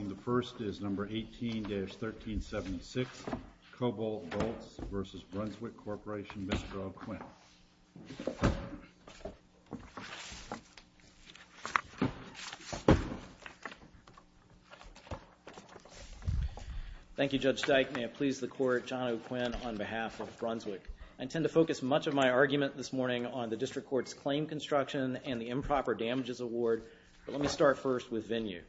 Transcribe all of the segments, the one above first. The first is number 18-1376, Cobalt Boats v. Brunswick Corporation, Mr. O'Quinn. Thank you, Judge Steik. May it please the Court, John O'Quinn on behalf of Brunswick. I intend to focus much of my argument this morning on the District Court's claim construction and the improper damages award, but let me start first with venue. Thank you.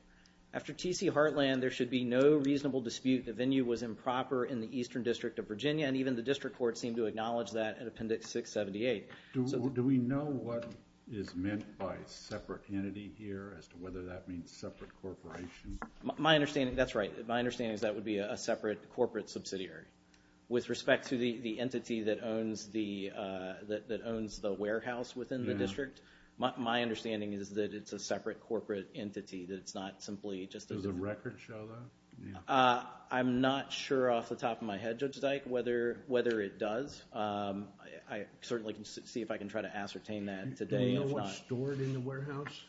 After T.C. Heartland, there should be no reasonable dispute the venue was improper in the Eastern District of Virginia, and even the District Court seemed to acknowledge that in Appendix 678. Do we know what is meant by separate entity here as to whether that means separate corporation? My understanding, that's right, my understanding is that would be a separate corporate subsidiary. With respect to the entity that owns the warehouse within the district, my understanding is that it's a separate corporate entity, that it's not simply just a... Does the record show that? I'm not sure off the top of my head, Judge Steik, whether it does. I certainly can see if I can try to ascertain that today, if not... Do you know what's stored in the warehouse?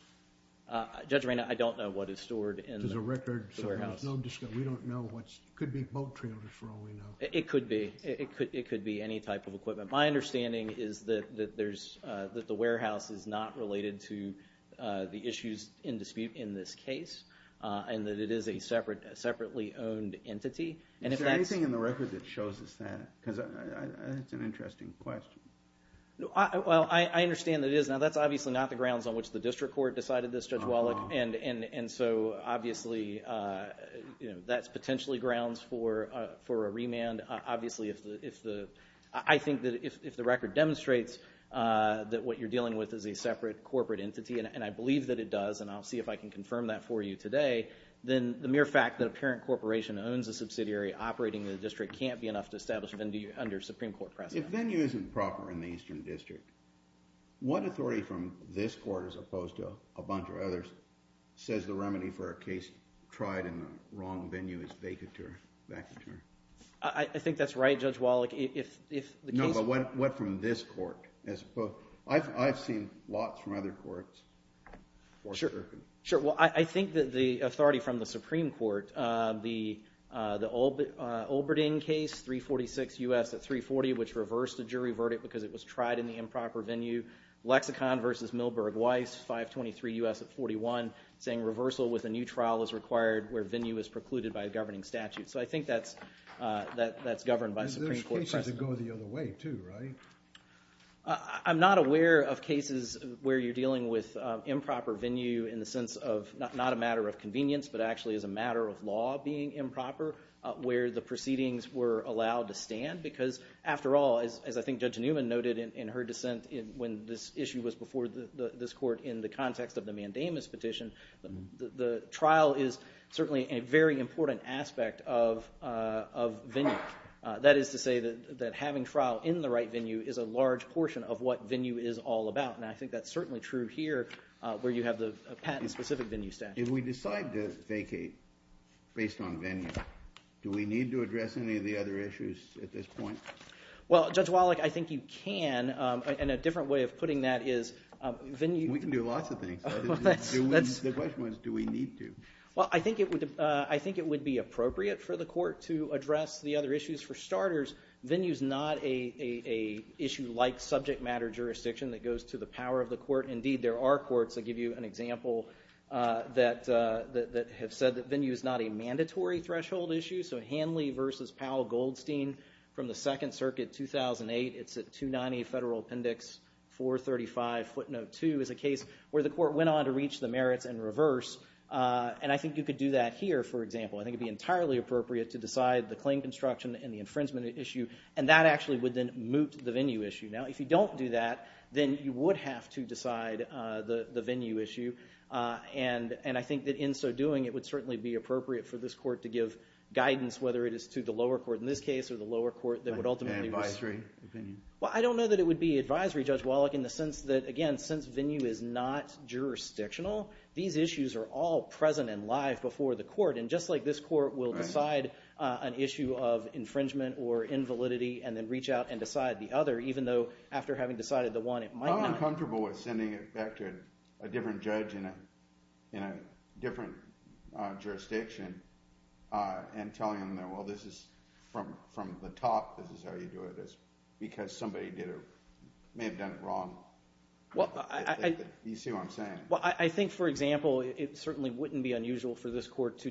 Judge Raina, I don't know what is stored in the warehouse. There's a record, so there's no discussion. We don't know what's... it could be boat trailers for all we know. It could be. It could be any type of equipment. My understanding is that the warehouse is not related to the issues in dispute in this case, and that it is a separately owned entity, and if that's... Is there anything in the record that shows us that, because I think it's an interesting question. Well, I understand that it is. Now, that's obviously not the grounds on which the district court decided this, Judge Wallach, and so obviously that's potentially grounds for a remand, obviously, if the... I think that if the record demonstrates that what you're dealing with is a separate corporate entity, and I believe that it does, and I'll see if I can confirm that for you today, then the mere fact that a parent corporation owns a subsidiary operating in the district can't be enough to establish it under Supreme Court precedent. If venue isn't proper in the Eastern District, what authority from this court, as opposed to a bunch of others, says the remedy for a case tried in the wrong venue is vacateur? I think that's right, Judge Wallach. No, but what from this court, as opposed... I've seen lots from other courts. Sure. Sure. Well, I think that the authority from the Supreme Court, the Olberding case, 346 U.S. at 340, which reversed a jury verdict because it was tried in the improper venue, Lexicon v. Milberg Weiss, 523 U.S. at 41, saying reversal with a new trial is required where venue is precluded by a governing statute. So I think that's governed by Supreme Court precedent. But the case has to go the other way, too, right? I'm not aware of cases where you're dealing with improper venue in the sense of not a matter of convenience, but actually as a matter of law being improper, where the proceedings were allowed to stand. Because after all, as I think Judge Newman noted in her dissent when this issue was before this court in the context of the mandamus petition, the trial is certainly a very important aspect of venue. That is to say that having trial in the right venue is a large portion of what venue is all about. And I think that's certainly true here, where you have the patent-specific venue statute. If we decide to vacate based on venue, do we need to address any of the other issues at this point? Well, Judge Wallach, I think you can. And a different way of putting that is venue- We can do lots of things. The question was, do we need to? Well, I think it would be appropriate for the court to address the other issues. For starters, venue is not an issue like subject matter jurisdiction that goes to the power of the court. Indeed, there are courts, I'll give you an example, that have said that venue is not a mandatory threshold issue. So Hanley v. Powell Goldstein from the Second Circuit 2008, it's at 290 Federal Appendix 435 footnote 2, is a case where the court went on to reach the merits and reverse. And I think you could do that here, for example. I think it would be entirely appropriate to decide the claim construction and the infringement issue, and that actually would then moot the venue issue. Now, if you don't do that, then you would have to decide the venue issue. And I think that in so doing, it would certainly be appropriate for this court to give guidance, whether it is to the lower court in this case or the lower court that would ultimately- Advisory opinion? Well, I don't know that it would be advisory, Judge Wallach, in the sense that, again, since venue is not jurisdictional, these issues are all present and live before the court. And just like this court will decide an issue of infringement or invalidity and then reach out and decide the other, even though after having decided the one, it might not- I'm uncomfortable with sending it back to a different judge in a different jurisdiction and telling them that, well, this is from the top, this is how you do it, is because somebody may have done it wrong. You see what I'm saying? Well, I think, for example, it certainly wouldn't be unusual for this court to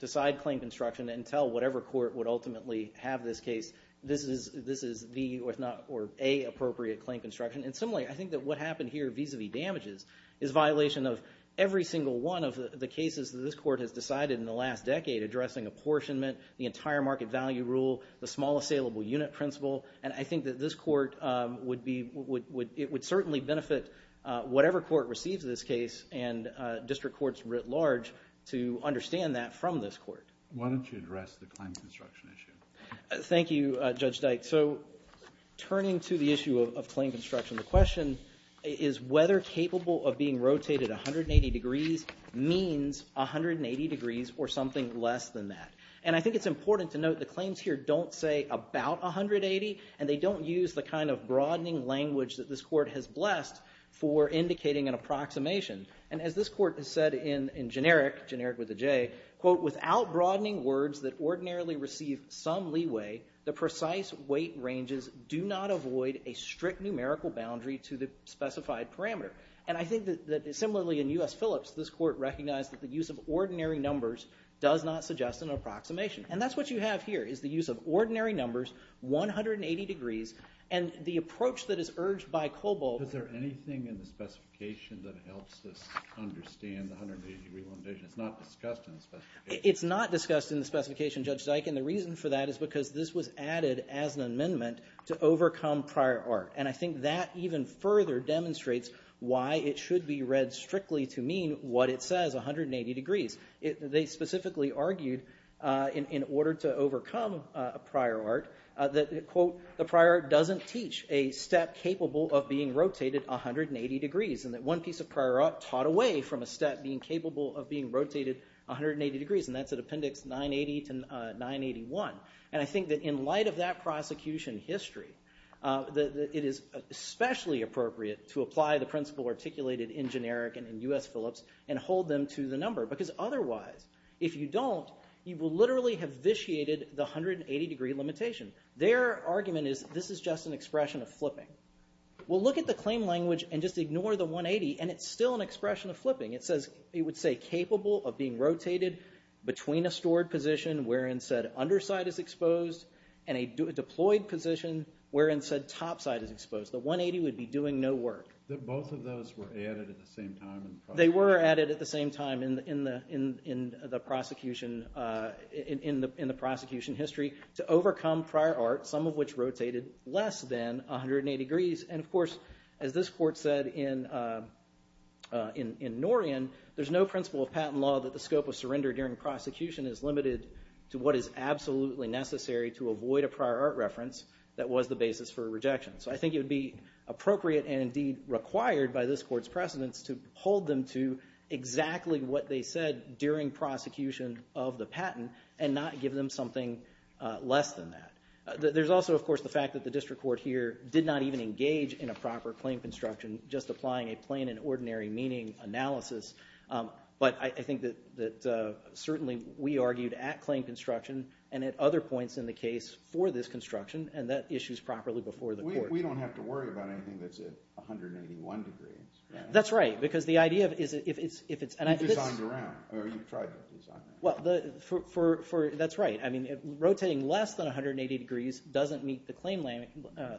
decide claim construction and tell whatever court would ultimately have this case, this is the or a appropriate claim construction. And similarly, I think that what happened here vis-a-vis damages is violation of every court has decided in the last decade addressing apportionment, the entire market value rule, the small assailable unit principle, and I think that this court would be- it would certainly benefit whatever court receives this case and district courts writ large to understand that from this court. Why don't you address the claim construction issue? Thank you, Judge Dyke. So turning to the issue of claim construction, the question is whether capable of being rotated 180 degrees means 180 degrees or something less than that. And I think it's important to note the claims here don't say about 180, and they don't use the kind of broadening language that this court has blessed for indicating an approximation. And as this court has said in generic, generic with a J, quote, without broadening words that ordinarily receive some leeway, the precise weight ranges do not avoid a strict numerical boundary to the specified parameter. And I think that similarly in U.S. Phillips, this court recognized that the use of ordinary numbers does not suggest an approximation. And that's what you have here is the use of ordinary numbers, 180 degrees, and the approach that is urged by Kobol- Is there anything in the specification that helps us understand the 180-degree limitation? It's not discussed in the specification. It's not discussed in the specification, Judge Dyke, and the reason for that is because this was added as an amendment to overcome prior art. And I think that even further demonstrates why it should be read strictly to mean what it says, 180 degrees. They specifically argued in order to overcome prior art that, quote, the prior art doesn't teach a step capable of being rotated 180 degrees, and that one piece of prior art taught away from a step being capable of being rotated 180 degrees, and that's at Appendix 980-981. And I think that in light of that prosecution history, it is especially appropriate to apply the principle articulated in generic and in U.S. Phillips and hold them to the number, because otherwise, if you don't, you will literally have vitiated the 180-degree limitation. Their argument is this is just an expression of flipping. Well, look at the claim language and just ignore the 180, and it's still an expression of flipping. It says, it would say, capable of being rotated between a stored position wherein said underside is exposed and a deployed position wherein said topside is exposed. The 180 would be doing no work. Both of those were added at the same time. They were added at the same time in the prosecution history to overcome prior art, some of which rotated less than 180 degrees. And of course, as this court said in Norian, there's no principle of patent law that the necessary to avoid a prior art reference that was the basis for a rejection. So I think it would be appropriate and indeed required by this court's precedents to hold them to exactly what they said during prosecution of the patent and not give them something less than that. There's also, of course, the fact that the district court here did not even engage in a proper claim construction, just applying a plain and ordinary meaning analysis. But I think that certainly we argued at claim construction and at other points in the case for this construction, and that issue is properly before the court. We don't have to worry about anything that's at 181 degrees. That's right. Because the idea is if it's... You've designed around, or you've tried to design around. That's right. I mean, rotating less than 180 degrees doesn't meet the claim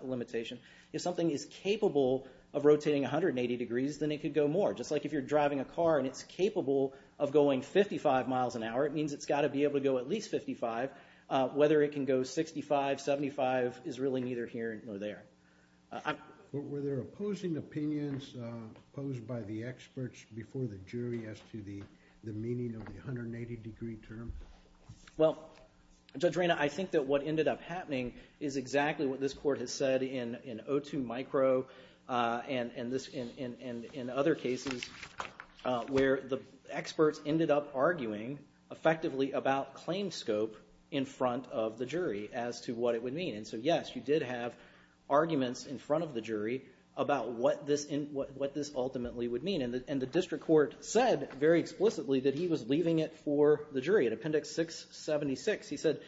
limitation. If something is capable of rotating 180 degrees, then it could go more, just like if you're driving a car and it's capable of going 55 miles an hour, it means it's got to be able to go at least 55. Whether it can go 65, 75 is really neither here nor there. Were there opposing opinions posed by the experts before the jury as to the meaning of the 180 degree term? Well, Judge Reyna, I think that what ended up happening is exactly what this court has said in O2 Micro and in other cases where the experts ended up arguing effectively about claim scope in front of the jury as to what it would mean. And so, yes, you did have arguments in front of the jury about what this ultimately would mean. And the district court said very explicitly that he was leaving it for the jury. At Appendix 676, he said,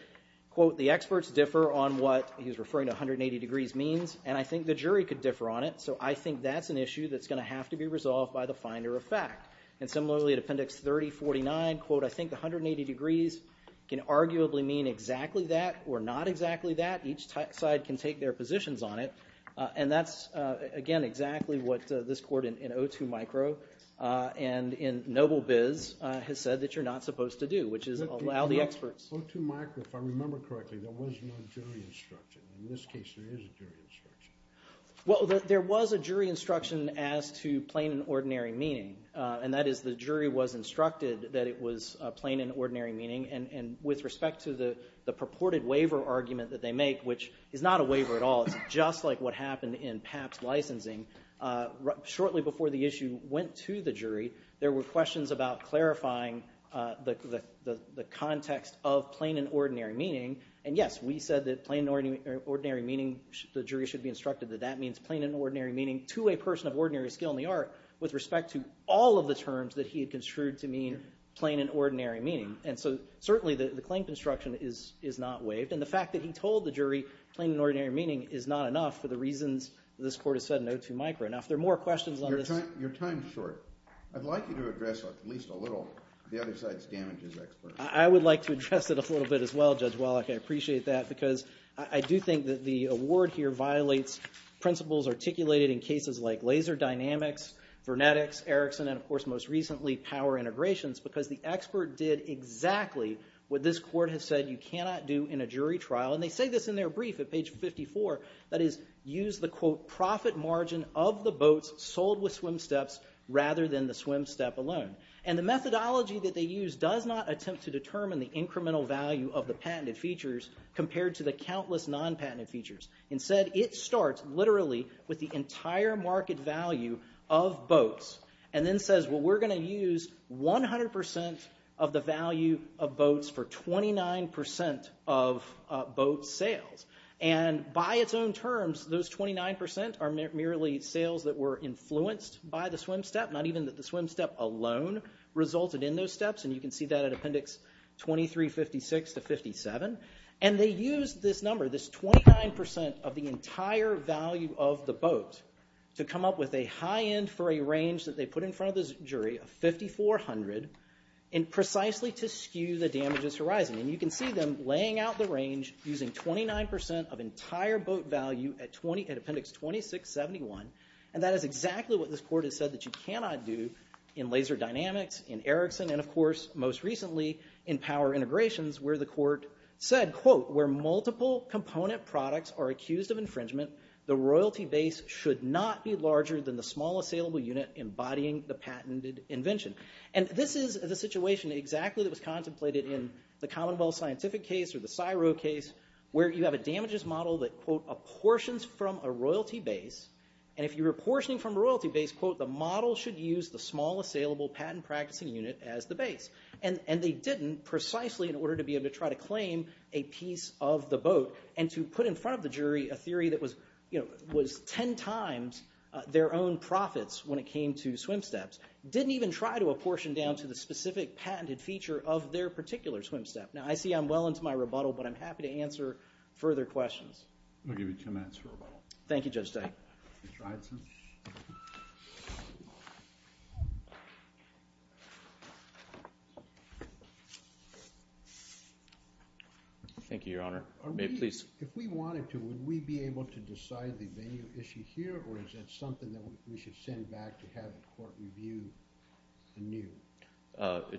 quote, the experts differ on what he was referring to, 180 degrees, means. And I think the jury could differ on it. So I think that's an issue that's going to have to be resolved by the finder of fact. And similarly, at Appendix 3049, quote, I think the 180 degrees can arguably mean exactly that or not exactly that. Each side can take their positions on it. And that's, again, exactly what this court in O2 Micro and in Noblebiz has said that you're not supposed to do, which is allow the experts. O2 Micro, if I remember correctly, there was no jury instruction. In this case, there is a jury instruction. Well, there was a jury instruction as to plain and ordinary meaning. And that is the jury was instructed that it was plain and ordinary meaning. And with respect to the purported waiver argument that they make, which is not a waiver at all, it's just like what happened in PAP's licensing, shortly before the issue went to the jury, there were questions about clarifying the context of plain and ordinary meaning. And yes, we said that plain and ordinary meaning, the jury should be instructed that that means plain and ordinary meaning to a person of ordinary skill in the art with respect to all of the terms that he had construed to mean plain and ordinary meaning. And so certainly, the claim construction is not waived. And the fact that he told the jury plain and ordinary meaning is not enough for the reasons this court has said in O2 Micro. Now, if there are more questions on this. Your time is short. I'd like you to address, at least a little, the other side's damages expert. I would like to address it a little bit as well, Judge Wallach. I appreciate that. Because I do think that the award here violates principles articulated in cases like laser dynamics, vernetics, Erickson, and of course, most recently, power integrations. Because the expert did exactly what this court has said you cannot do in a jury trial. And they say this in their brief at page 54. That is, use the, quote, profit margin of the boats sold with swim steps rather than the swim step alone. And the methodology that they use does not attempt to determine the incremental value of the patented features compared to the countless non-patented features. Instead, it starts literally with the entire market value of boats. And then says, well, we're going to use 100% of the value of boats for 29% of boat sales. And by its own terms, those 29% are merely sales that were influenced by the swim step, not even that the swim step alone resulted in those steps. And you can see that at appendix 2356 to 57. And they used this number, this 29% of the entire value of the boat, to come up with a high end for a range that they put in front of this jury of 5,400, and precisely to skew the damages horizon. And you can see them laying out the range using 29% of entire boat value at appendix 2671. And that is exactly what this court has said that you cannot do in Laser Dynamics, in Ericsson, and of course, most recently, in Power Integrations, where the court said, quote, where multiple component products are accused of infringement, the royalty base should not be larger than the small assailable unit embodying the patented invention. And this is the situation exactly that was contemplated in the Commonwealth Scientific case or the Syro case, where you have a damages model that, quote, apportions from a royalty base. And if you're apportioning from a royalty base, quote, the model should use the small assailable patent practicing unit as the base. And they didn't precisely in order to be able to try to claim a piece of the boat and to put in front of the jury a theory that was 10 times their own profits when it came to swim steps, didn't even try to apportion down to the specific patented feature of their particular swim step. Now, I see I'm well into my rebuttal, but I'm happy to answer further questions. I'll give you two minutes for rebuttal. Thank you, Judge Stein. Have you tried some? Thank you, Your Honor. Please. If we wanted to, would we be able to decide the venue issue here? Or is that something that we should send back to have the court review anew?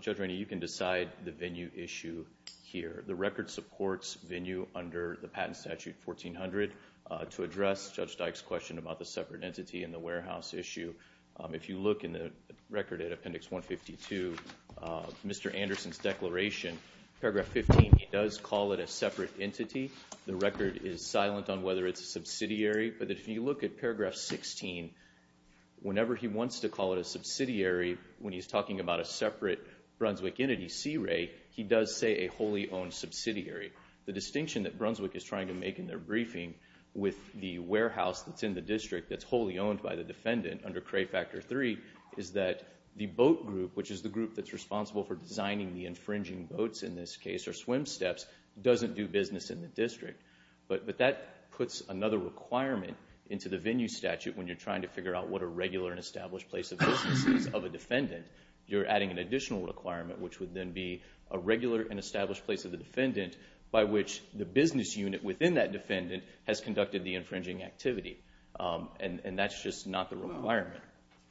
Judge Rainey, you can decide the venue issue here. The record supports venue under the patent statute 1400 to address Judge Dyke's question about the separate entity in the warehouse issue. If you look in the record at appendix 152, Mr. Anderson's declaration, paragraph 15, he does call it a separate entity. The record is silent on whether it's a subsidiary. But if you look at paragraph 16, whenever he wants to call it a subsidiary, when he's talking about a separate Brunswick entity, CRA, he does say a wholly owned subsidiary. The distinction that Brunswick is trying to make in their briefing with the warehouse that's in the district that's wholly owned by the defendant under CRA Factor III is that the boat group, which is the group that's responsible for designing the infringing boats in this case, or swim steps, doesn't do business in the district. But that puts another requirement into the venue statute when you're trying to figure out what a regular and established place of business is of a defendant. You're adding an additional requirement, which would then be a regular and established place of the defendant, by which the business unit within that defendant has conducted the infringing activity. And that's just not the requirement.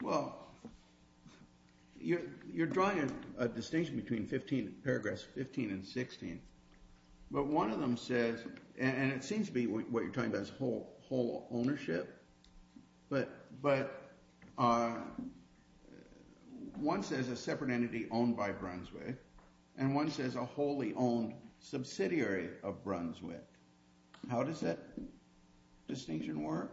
Well, you're drawing a distinction between paragraphs 15 and 16. But one of them says, and it seems to be what you're talking about is whole ownership, but one says a separate entity owned by Brunswick, and one says a wholly owned subsidiary of Brunswick. How does that distinction work?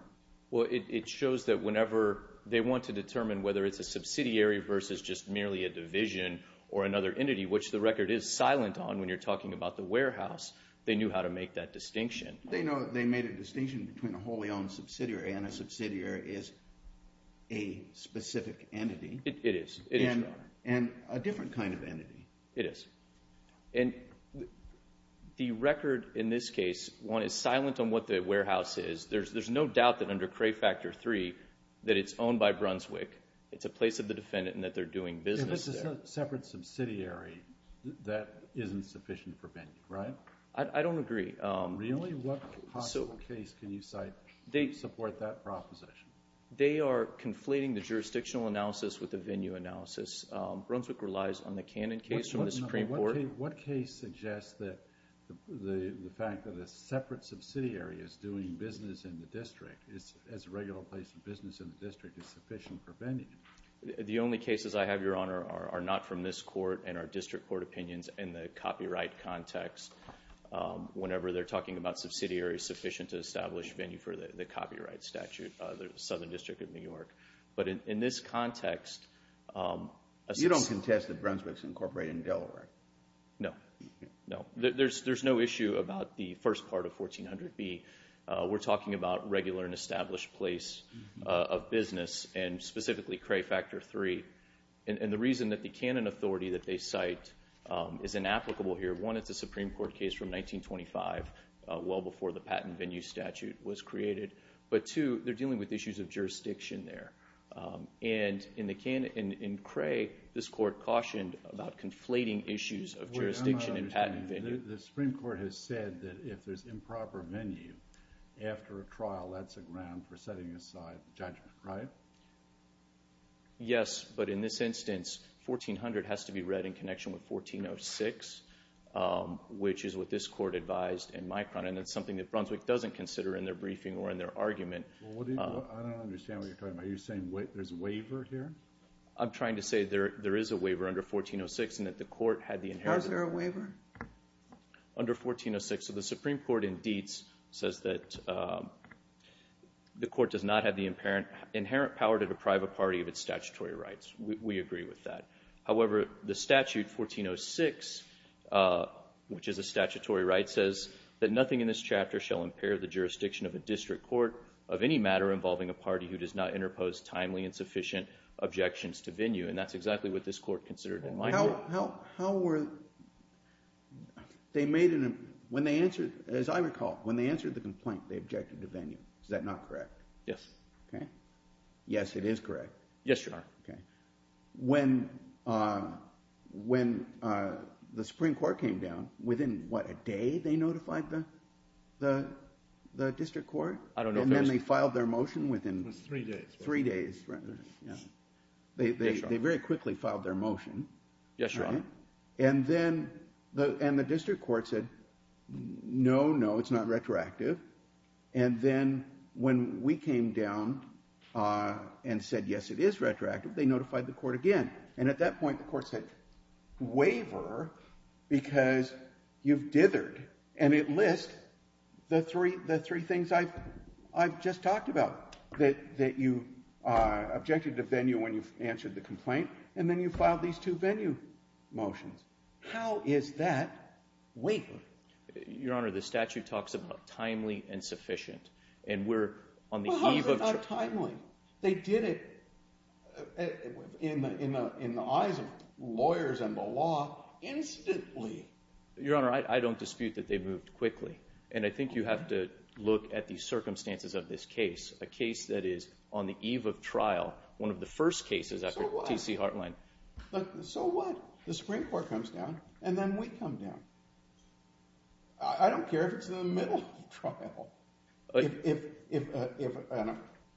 Well, it shows that whenever they want to determine whether it's a subsidiary versus just merely a division or another entity, which the record is silent on when you're talking about the warehouse, they knew how to make that distinction. They know that they made a distinction between a wholly owned subsidiary, and a subsidiary is a specific entity. It is, it is. And a different kind of entity. It is. And the record in this case, one is silent on what the warehouse is. There's no doubt that under Cray Factor III that it's owned by Brunswick. It's a place of the defendant, and that they're doing business there. If it's a separate subsidiary, that isn't sufficient for vending, right? I don't agree. Really? What possible case can you cite to support that proposition? They are conflating the jurisdictional analysis with the venue analysis. Brunswick relies on the Cannon case from the Supreme Court. What case suggests that the fact that a separate subsidiary is doing business in the district, as a regular place of business in the district, is sufficient for vending? The only cases I have, Your Honor, are not from this court and our district court opinions in the copyright context. Whenever they're talking about subsidiaries sufficient to establish venue for the copyright statute, the Southern District of New York. But in this context... You don't contest that Brunswick's incorporated in Delaware? No. No. There's no issue about the first part of 1400B. We're talking about regular and established place of business. Specifically, Cray Factor III. The reason that the Cannon authority that they cite is inapplicable here. One, it's a Supreme Court case from 1925, well before the patent venue statute was created. Two, they're dealing with issues of jurisdiction there. In Cray, this court cautioned about conflating issues of jurisdiction and patent venue. I'm not understanding. The Supreme Court has said that if there's improper venue after a trial, that's a ground for setting aside judgment, right? Yes, but in this instance, 1400 has to be read in connection with 1406, which is what this court advised in Micron and it's something that Brunswick doesn't consider in their briefing or in their argument. I don't understand what you're talking about. Are you saying there's a waiver here? I'm trying to say there is a waiver under 1406 and that the court had the inheritance... Was there a waiver? Under 1406, so the Supreme Court in Dietz says that the court does not have the inherent power to deprive a party of its statutory rights. We agree with that. However, the statute 1406, which is a statutory right, says that nothing in this chapter shall impair the jurisdiction of a district court of any matter involving a party who does not interpose timely and sufficient Micron. How were... they made an... when they answered, as I recall, when they answered the complaint, they objected to venue. Is that not correct? Yes. Okay. Yes, it is correct? Yes, Your Honor. Okay. When the Supreme Court came down, within what, a day they notified the district court? I don't know. Then they filed their motion within... It was three days. Three days. Yes, Your Honor. They very quickly filed their motion. Yes, Your Honor. And then the district court said, no, no, it's not retroactive. And then when we came down and said, yes, it is retroactive, they notified the court again. And at that point, the court said, waiver because you've dithered. And it lists the three things I've just talked about, that you objected to venue when you've answered the complaint. And then you filed these two venue motions. How is that waiver? Your Honor, the statute talks about timely and sufficient. And we're on the eve of... Well, how is it not timely? They did it in the eyes of lawyers and the law instantly. Your Honor, I don't dispute that they moved quickly. And I think you have to look at the circumstances of this case, a case that is on the eve of trial, one of the first cases after T.C. Hartline. So what? The Supreme Court comes down, and then we come down. I don't care if it's in the middle of trial. If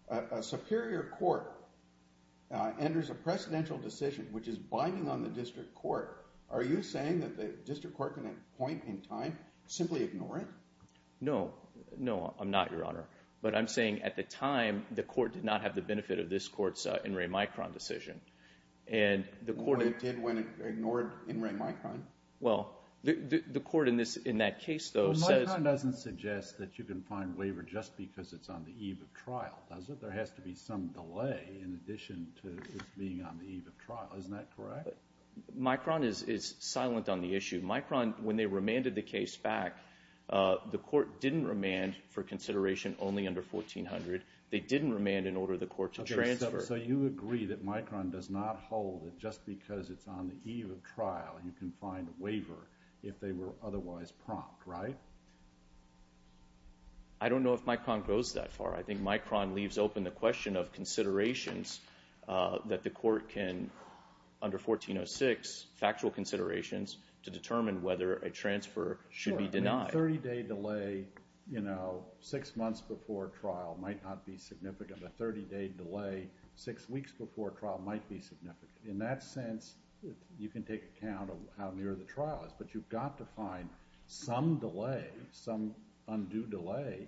a superior court enters a precedential decision, which is binding on the district court, are you saying that the district court can appoint in time, simply ignore it? No. No, I'm not, Your Honor. But I'm saying at the time, the court did not have the benefit of this court's In re Micron decision. It did when it ignored In re Micron? Well, the court in that case, though, says... Well, Micron doesn't suggest that you can find waiver just because it's on the eve of trial, does it? There has to be some delay in addition to this being on the eve of trial. Isn't that correct? Micron is silent on the issue. Micron, when they remanded the case back, the court didn't remand for consideration only under 1400. They didn't remand in order for the court to transfer. So you agree that Micron does not hold that just because it's on the eve of trial, you can find a waiver if they were otherwise prompt, right? I don't know if Micron goes that far. I think Micron leaves open the question of considerations that the court can, under 1406, factual considerations to determine whether a transfer should be denied. A 30-day delay, you know, six months before trial might not be significant. A 30-day delay six weeks before trial might be significant. In that sense, you can take account of how near the trial is, but you've got to find some delay, some undue delay.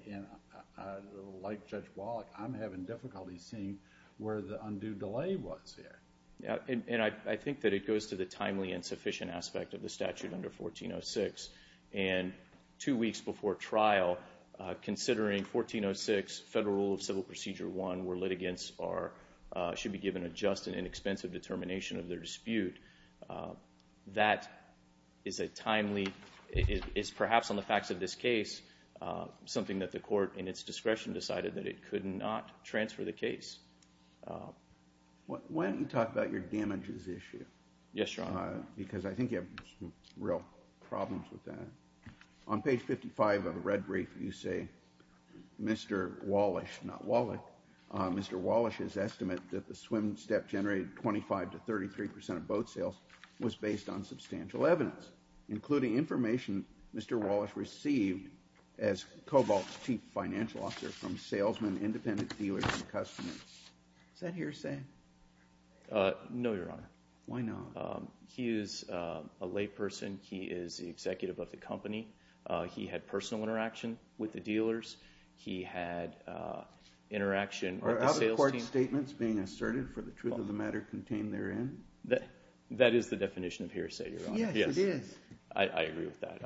Like Judge Wallach, I'm having difficulty seeing where the undue delay was here. I think that it goes to the timely and sufficient aspect of the statute under 1406. And two weeks before trial, considering 1406, Federal Rule of Civil Procedure 1, where litigants should be given a just and inexpensive determination of their dispute, that is a timely... is perhaps on the facts of this case, something that the court in its discretion decided that it could not transfer the case. Why don't you talk about your damages issue? Yes, Your Honor. Because I think you have some real problems with that. On page 55 of the red brief, you say, Mr. Wallach, not Wallach, Mr. Wallach's estimate that the swim step generated 25 to 33 percent of boat sales was based on substantial evidence, including information Mr. Wallach received as Cobalt's chief financial officer from salesmen, independent dealers, and customers. Is that hearsay? No, Your Honor. Why not? He is a layperson. He is the executive of the company. He had personal interaction with the dealers. He had interaction with the sales team. Are other court statements being asserted for the truth of the matter contained therein? That is the definition of hearsay, Your Honor. Yes, it is. I agree with that.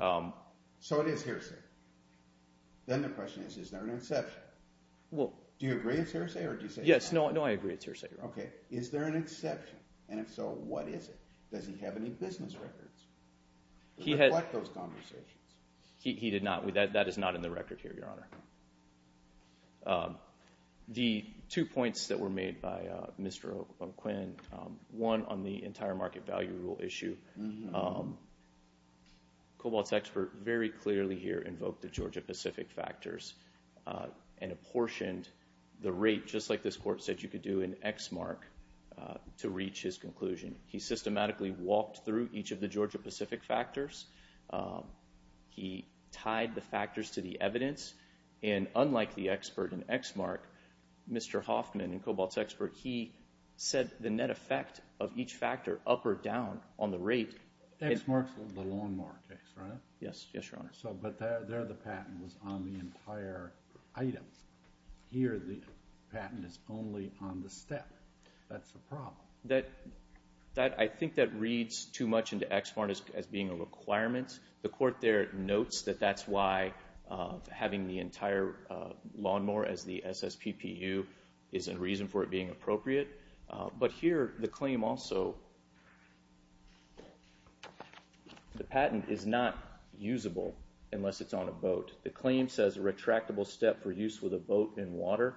So it is hearsay. Then the question is, is there an exception? Well... Do you agree it's hearsay, or do you say it's not? Yes. No, I agree it's hearsay, Your Honor. Okay. Is there an exception? And if so, what is it? Does he have any business records to reflect those conversations? He did not. That is not in the record here, Your Honor. The two points that were made by Mr. O'Quinn, one on the entire market value rule issue, Cobalt's expert very clearly here invoked the Georgia-Pacific factors and apportioned the rate, just like this court said you could do in X mark to reach his conclusion. He systematically walked through each of the Georgia-Pacific factors. He tied the factors to the evidence and unlike the expert in X mark, Mr. Hoffman, Cobalt's expert, he said the net effect of each factor up or down on the rate... X mark is the long mark, right? Yes, Your Honor. But there the patent was on the entire item. Here, the patent is only on the step. That's the problem. I think that reads too much into X mark as being a requirement. The court there notes that that's why having the entire lawnmower as the SSPPU is a reason for it being appropriate. But here, the claim also... The patent is not usable unless it's on a boat. The claim says a retractable step for use with a boat in water.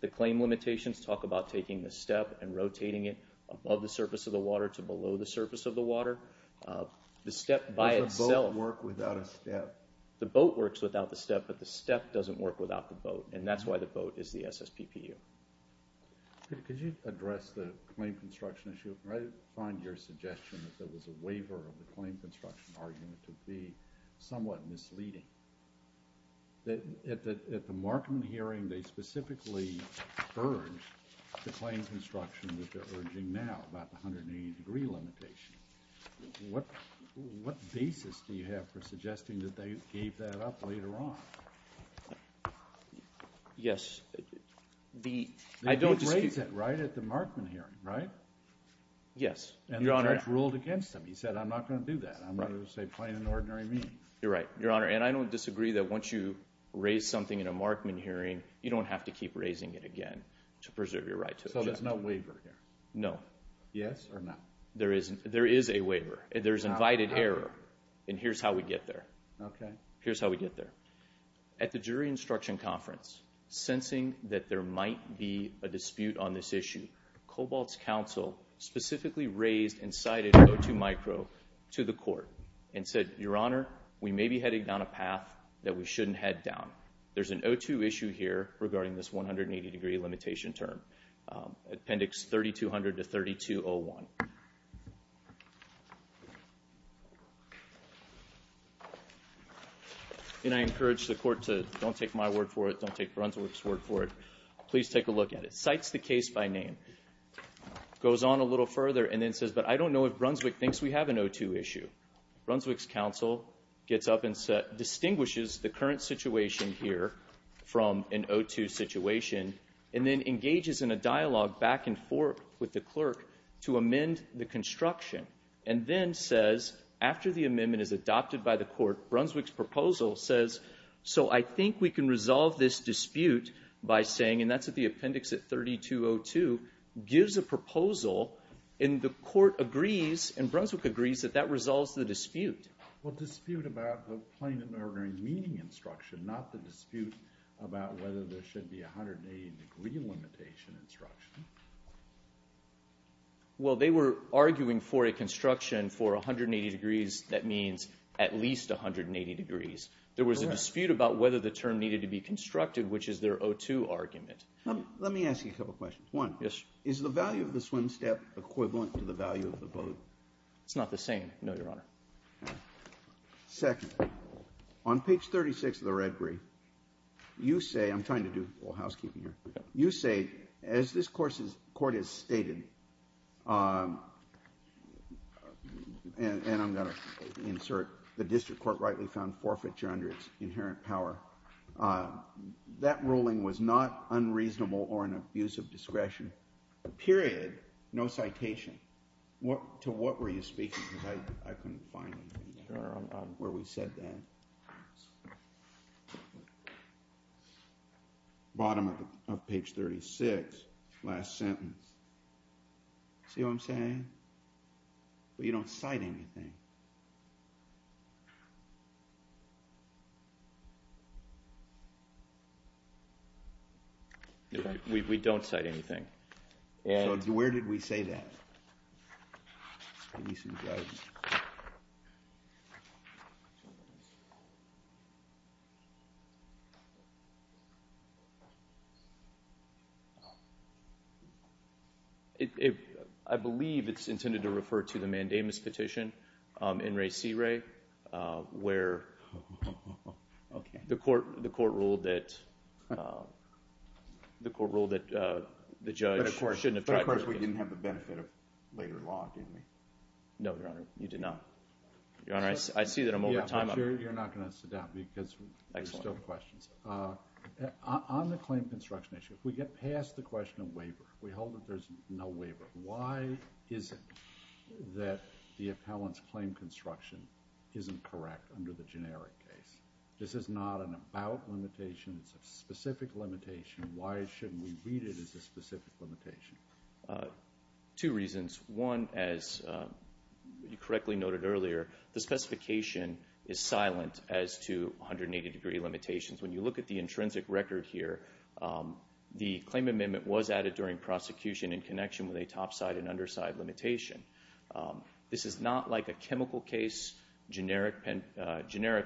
The claim limitations talk about taking the step and rotating it above the surface of the water to below the surface of the water. The step by itself... Does the boat work without a step? The boat works without the step, but the step doesn't work without the boat. And that's why the boat is the SSPPU. Could you address the claim construction issue? I find your suggestion that there was a waiver of the claim construction argument to be somewhat misleading. At the Markman hearing, they specifically urged the claim construction that they're urging now about the 180 degree limitation. What basis do you have for suggesting that they gave that up later on? Yes. They did raise it right at the Markman hearing, right? Yes, Your Honor. And the judge ruled against them. He said, I'm not going to do that. I'm going to say plain and ordinary means. You're right, Your Honor. And I don't disagree that once you raise something in a Markman hearing, you don't have to keep raising it again to preserve your right to object. So there's no waiver here? No. Yes or no? There is a waiver. There's invited error. And here's how we get there. Here's how we get there. At the jury instruction conference, sensing that there might be a dispute on this issue, Cobalt's counsel specifically raised and cited O2 micro to the court and said, Your Honor, we may be heading down a path that we shouldn't head down. There's an O2 issue here regarding this 180 degree limitation term, Appendix 3200 to 3201. And I encourage the court to don't take my word for it. Don't take Brunswick's word for it. Please take a look at it. Cites the case by name. Goes on a little further and then says, but I don't know if Brunswick thinks we have an O2 issue. Brunswick's counsel gets up and distinguishes the current situation here from an O2 situation and then engages in a dialogue back and forth with the clerk to amend the construction and then says after the amendment is adopted by the court, Brunswick's proposal says, so I think we can resolve this dispute by saying, and that's at the appendix at 3202, gives a proposal and the court agrees and Brunswick agrees that that resolves the dispute. Well, dispute about the plain and ordinary meaning instruction, not the dispute about whether there should be a 180 degree limitation instruction. Well, they were arguing for a construction for 180 degrees that means at least 180 degrees. There was a dispute about whether the term needed to be constructed, which is their O2 argument. Let me ask you a couple of questions. One, is the value of the swim step equivalent to the value of the boat? It's not the same, no, Your Honor. Second, on page 36 of the red brief, you say, I'm trying to do a little housekeeping here, you say, as this court has stated, and I'm going to insert, the district court rightly found forfeiture under its inherent power, that ruling was not unreasonable or an abuse of discretion, period. No citation. To what were you speaking? Because I couldn't find anything there where we said that. Bottom of page 36, last sentence. See what I'm saying? But you don't cite anything. We don't cite anything. So where did we say that? I believe it's intended to refer to the mandamus petition, in re si re, where the court ruled that the judge shouldn't have tried to... But of course we didn't have the benefit of later law, did we? No, Your Honor, you did not. Your Honor, I see that I'm over time. You're not going to sit down because there's still questions. On the claim construction issue, if we get past the question of waiver, we hold that there's no waiver, why is it that the appellant's claim construction isn't correct under the generic case? This is not an about limitation. It's a specific limitation. Why shouldn't we read it as a specific limitation? Two reasons. One, as you correctly noted earlier, the specification is silent as to 180-degree limitations. When you look at the intrinsic record here, the claim amendment was added during prosecution in connection with a topside and underside limitation. This is not like a chemical case, generic,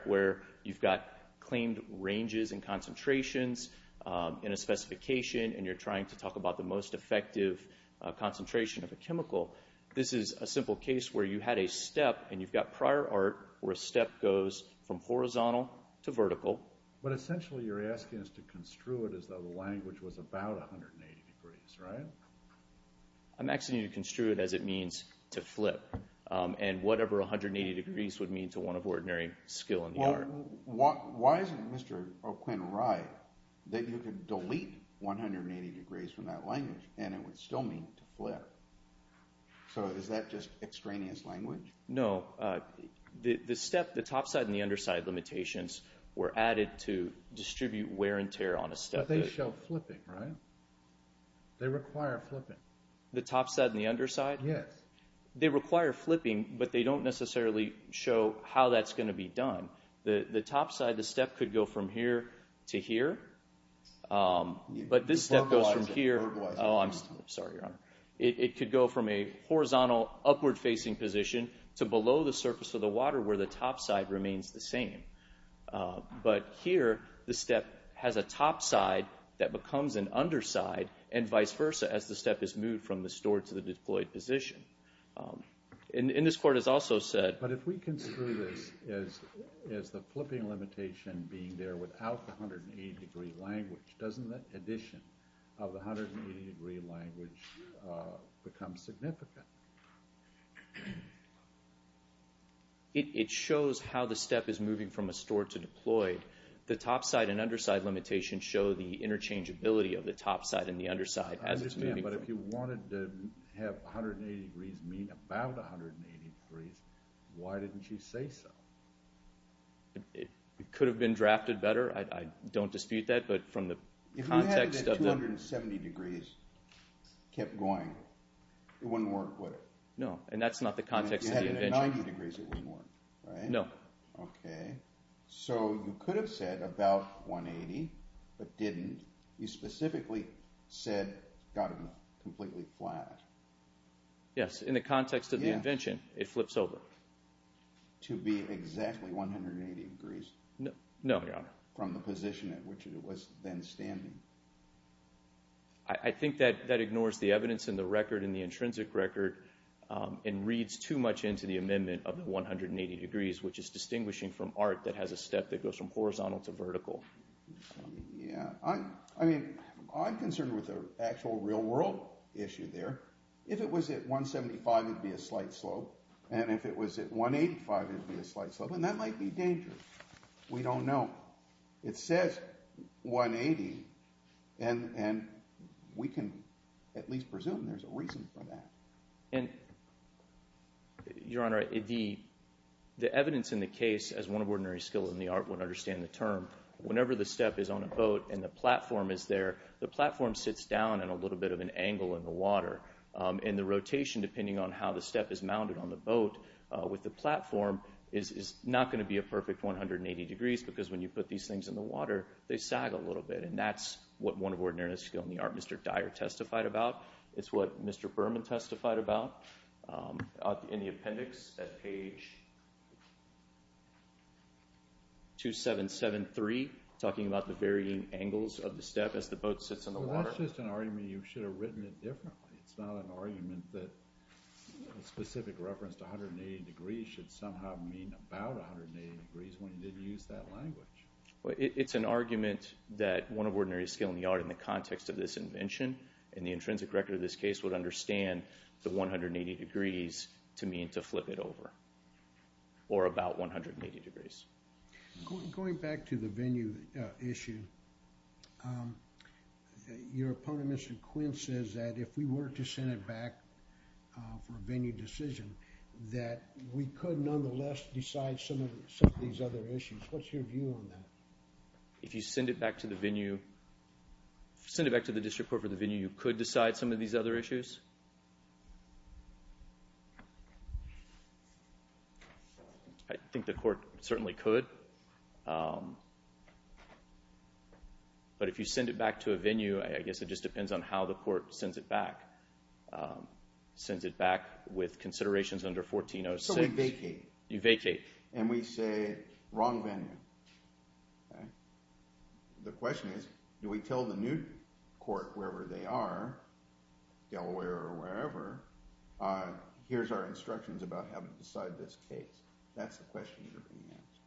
where you've got claimed ranges and concentrations in a specification and you're trying to talk about the most effective concentration of a chemical. This is a simple case where you had a step and you've got prior art where a step goes from horizontal to vertical. But essentially you're asking us to construe it as though the language was about 180 degrees, right? I'm asking you to construe it as it means to flip and whatever 180 degrees would mean to one of ordinary skill in the art. Why isn't Mr. O'Quinn right that you could delete 180 degrees from that language and it would still mean to flip? So is that just extraneous language? No. The step, the topside and the underside limitations were added to distribute wear and tear on a step. But they show flipping, right? They require flipping. The topside and the underside? Yes. They require flipping, but they don't necessarily show how that's going to be done. The topside, the step could go from here to here. Verbalizing. Oh, I'm sorry, Your Honor. It could go from a horizontal upward facing position to below the surface of the water where the topside remains the same. But here the step has a topside that becomes an underside and vice versa as the step is moved from the stored to the deployed position. And this court has also said... But if we construe this as the flipping limitation being there without the 180 degree language, doesn't the addition of the 180 degree language become significant? It shows how the step is moving from a stored to deployed. The topside and underside limitations show the interchangeability of the topside and the underside. I understand, but if you wanted to have 180 degrees mean about 180 degrees, why didn't you say so? It could have been drafted better. I don't dispute that, but from the context of the... If we had it at 270 degrees, kept going, it wouldn't work, would it? No, and that's not the context of the invention. If you had it at 90 degrees, it wouldn't work, right? No. Okay. So you could have said about 180, but didn't. You specifically said got them completely flat. Yes, in the context of the invention, it flips over. To be exactly 180 degrees? No, Your Honor. From the position at which it was then standing. I think that ignores the evidence in the record, in the intrinsic record, and reads too much into the amendment of the 180 degrees, which is distinguishing from art that has a step that goes from horizontal to vertical. Yeah, I mean, I'm concerned with the actual real world issue there. If it was at 175, it'd be a slight slope, and if it was at 185, it'd be a slight slope, and that might be dangerous. We don't know. It says 180, and we can at least presume there's a reason for that. And, Your Honor, the evidence in the case, as one of ordinary skills in the art would understand the term, whenever the step is on a boat and the platform is there, the platform sits down at a little bit of an angle in the water, and the rotation, depending on how the step is mounted on the boat with the platform, is not going to be a perfect 180 degrees, because when you put these things in the water, they sag a little bit, and that's what one of ordinary skills in the art, Mr. Dyer, testified about. It's what Mr. Berman testified about in the appendix at page 2773, talking about the varying angles of the step as the boat sits on the water. Well, that's just an argument you should have written it differently. It's not an argument that a specific reference to 180 degrees should somehow mean about 180 degrees when you didn't use that language. It's an argument that one of ordinary skill in the art in the context of this invention, and the intrinsic record of this case would understand the 180 degrees to mean to flip it over, or about 180 degrees. Going back to the venue issue, your opponent, Mr. Quinn, says that if we were to send it back for a venue decision, that we could nonetheless decide some of these other issues. What's your view on that? If you send it back to the venue, send it back to the district court for the venue, you could decide some of these other issues? I think the court certainly could. But if you send it back to a venue, I guess it just depends on how the court sends it back. Sends it back with considerations under 1406. So we vacate. You vacate. And we say, wrong venue. The question is, do we tell the new court, wherever they are, Delaware or wherever, here's our instructions about how to decide this case? That's the question you're going to ask.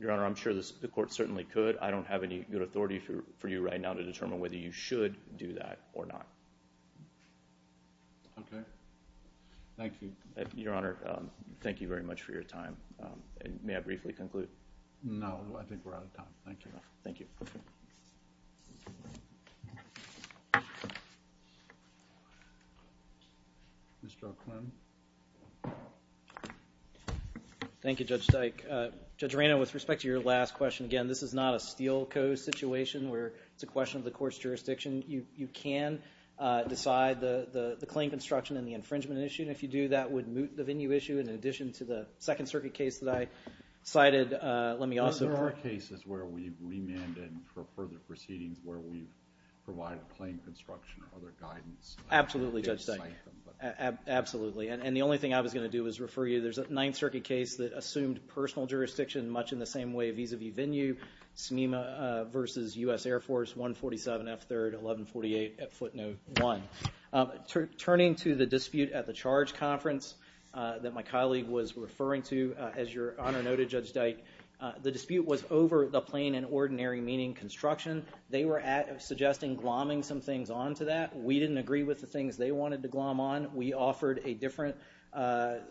Your Honor, I'm sure the court certainly could. I don't have any good authority for you right now to determine whether you should do that or not. Okay. Thank you. Your Honor, thank you very much for your time. May I briefly conclude? No, I think we're out of time. Thank you. Thank you. Mr. O'Quinn. Thank you, Judge Dyke. Judge Rano, with respect to your last question, again, this is not a steel code situation where it's a question of the court's jurisdiction. You can decide the claim construction and the infringement issue. And if you do, that would moot the venue issue. In addition to the Second Circuit case that I cited, let me also – for further proceedings where we've provided claim construction or other guidance. Absolutely, Judge Dyke. Absolutely. And the only thing I was going to do was refer you – there's a Ninth Circuit case that assumed personal jurisdiction much in the same way, vis-à-vis venue, SMEMA versus U.S. Air Force, 147F3rd, 1148 at footnote one. Turning to the dispute at the charge conference that my colleague was referring to, as Your Honor noted, Judge Dyke, the dispute was over the plain and ordinary meaning construction. They were suggesting glomming some things onto that. We didn't agree with the things they wanted to glomm on. We offered a different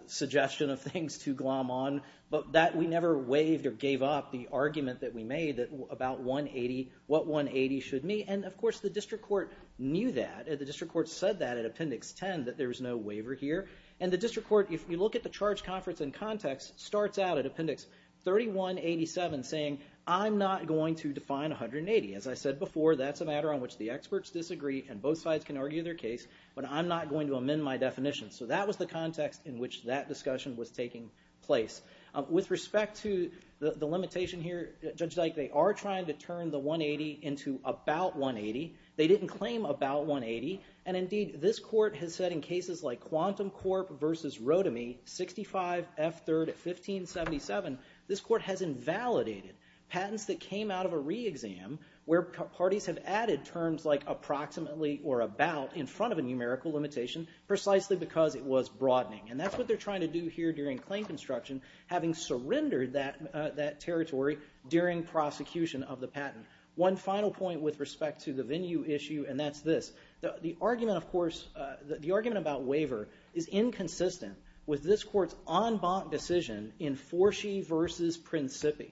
suggestion of things to glomm on. But that – we never waived or gave up the argument that we made about 180, what 180 should mean. And, of course, the district court knew that. The district court said that at Appendix 10, that there was no waiver here. And the district court, if you look at the charge conference in context, starts out at Appendix 3187 saying, I'm not going to define 180. As I said before, that's a matter on which the experts disagree, and both sides can argue their case, but I'm not going to amend my definition. So that was the context in which that discussion was taking place. With respect to the limitation here, Judge Dyke, they are trying to turn the 180 into about 180. They didn't claim about 180. And, indeed, this court has said in cases like Quantum Corp. versus Rotimi, 65 F3rd 1577, this court has invalidated patents that came out of a re-exam where parties have added terms like approximately or about in front of a numerical limitation precisely because it was broadening. And that's what they're trying to do here during claim construction, having surrendered that territory during prosecution of the patent. One final point with respect to the venue issue, and that's this. The argument, of course, the argument about waiver is inconsistent with this court's en banc decision in Forshee versus Principi,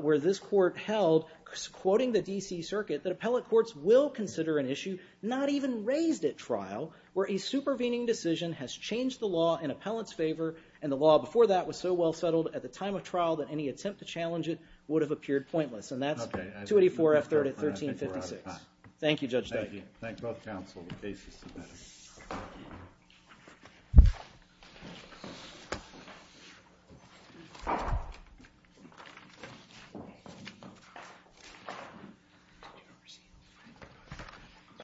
where this court held, quoting the D.C. Circuit, that appellate courts will consider an issue not even raised at trial where a supervening decision has changed the law in appellate's favor, and the law before that was so well settled at the time of trial that any attempt to challenge it would have appeared pointless. And that's 284 F3rd at 1356. Thank you, Judge Duggan. Thank you. Thank both counsel. The case is submitted.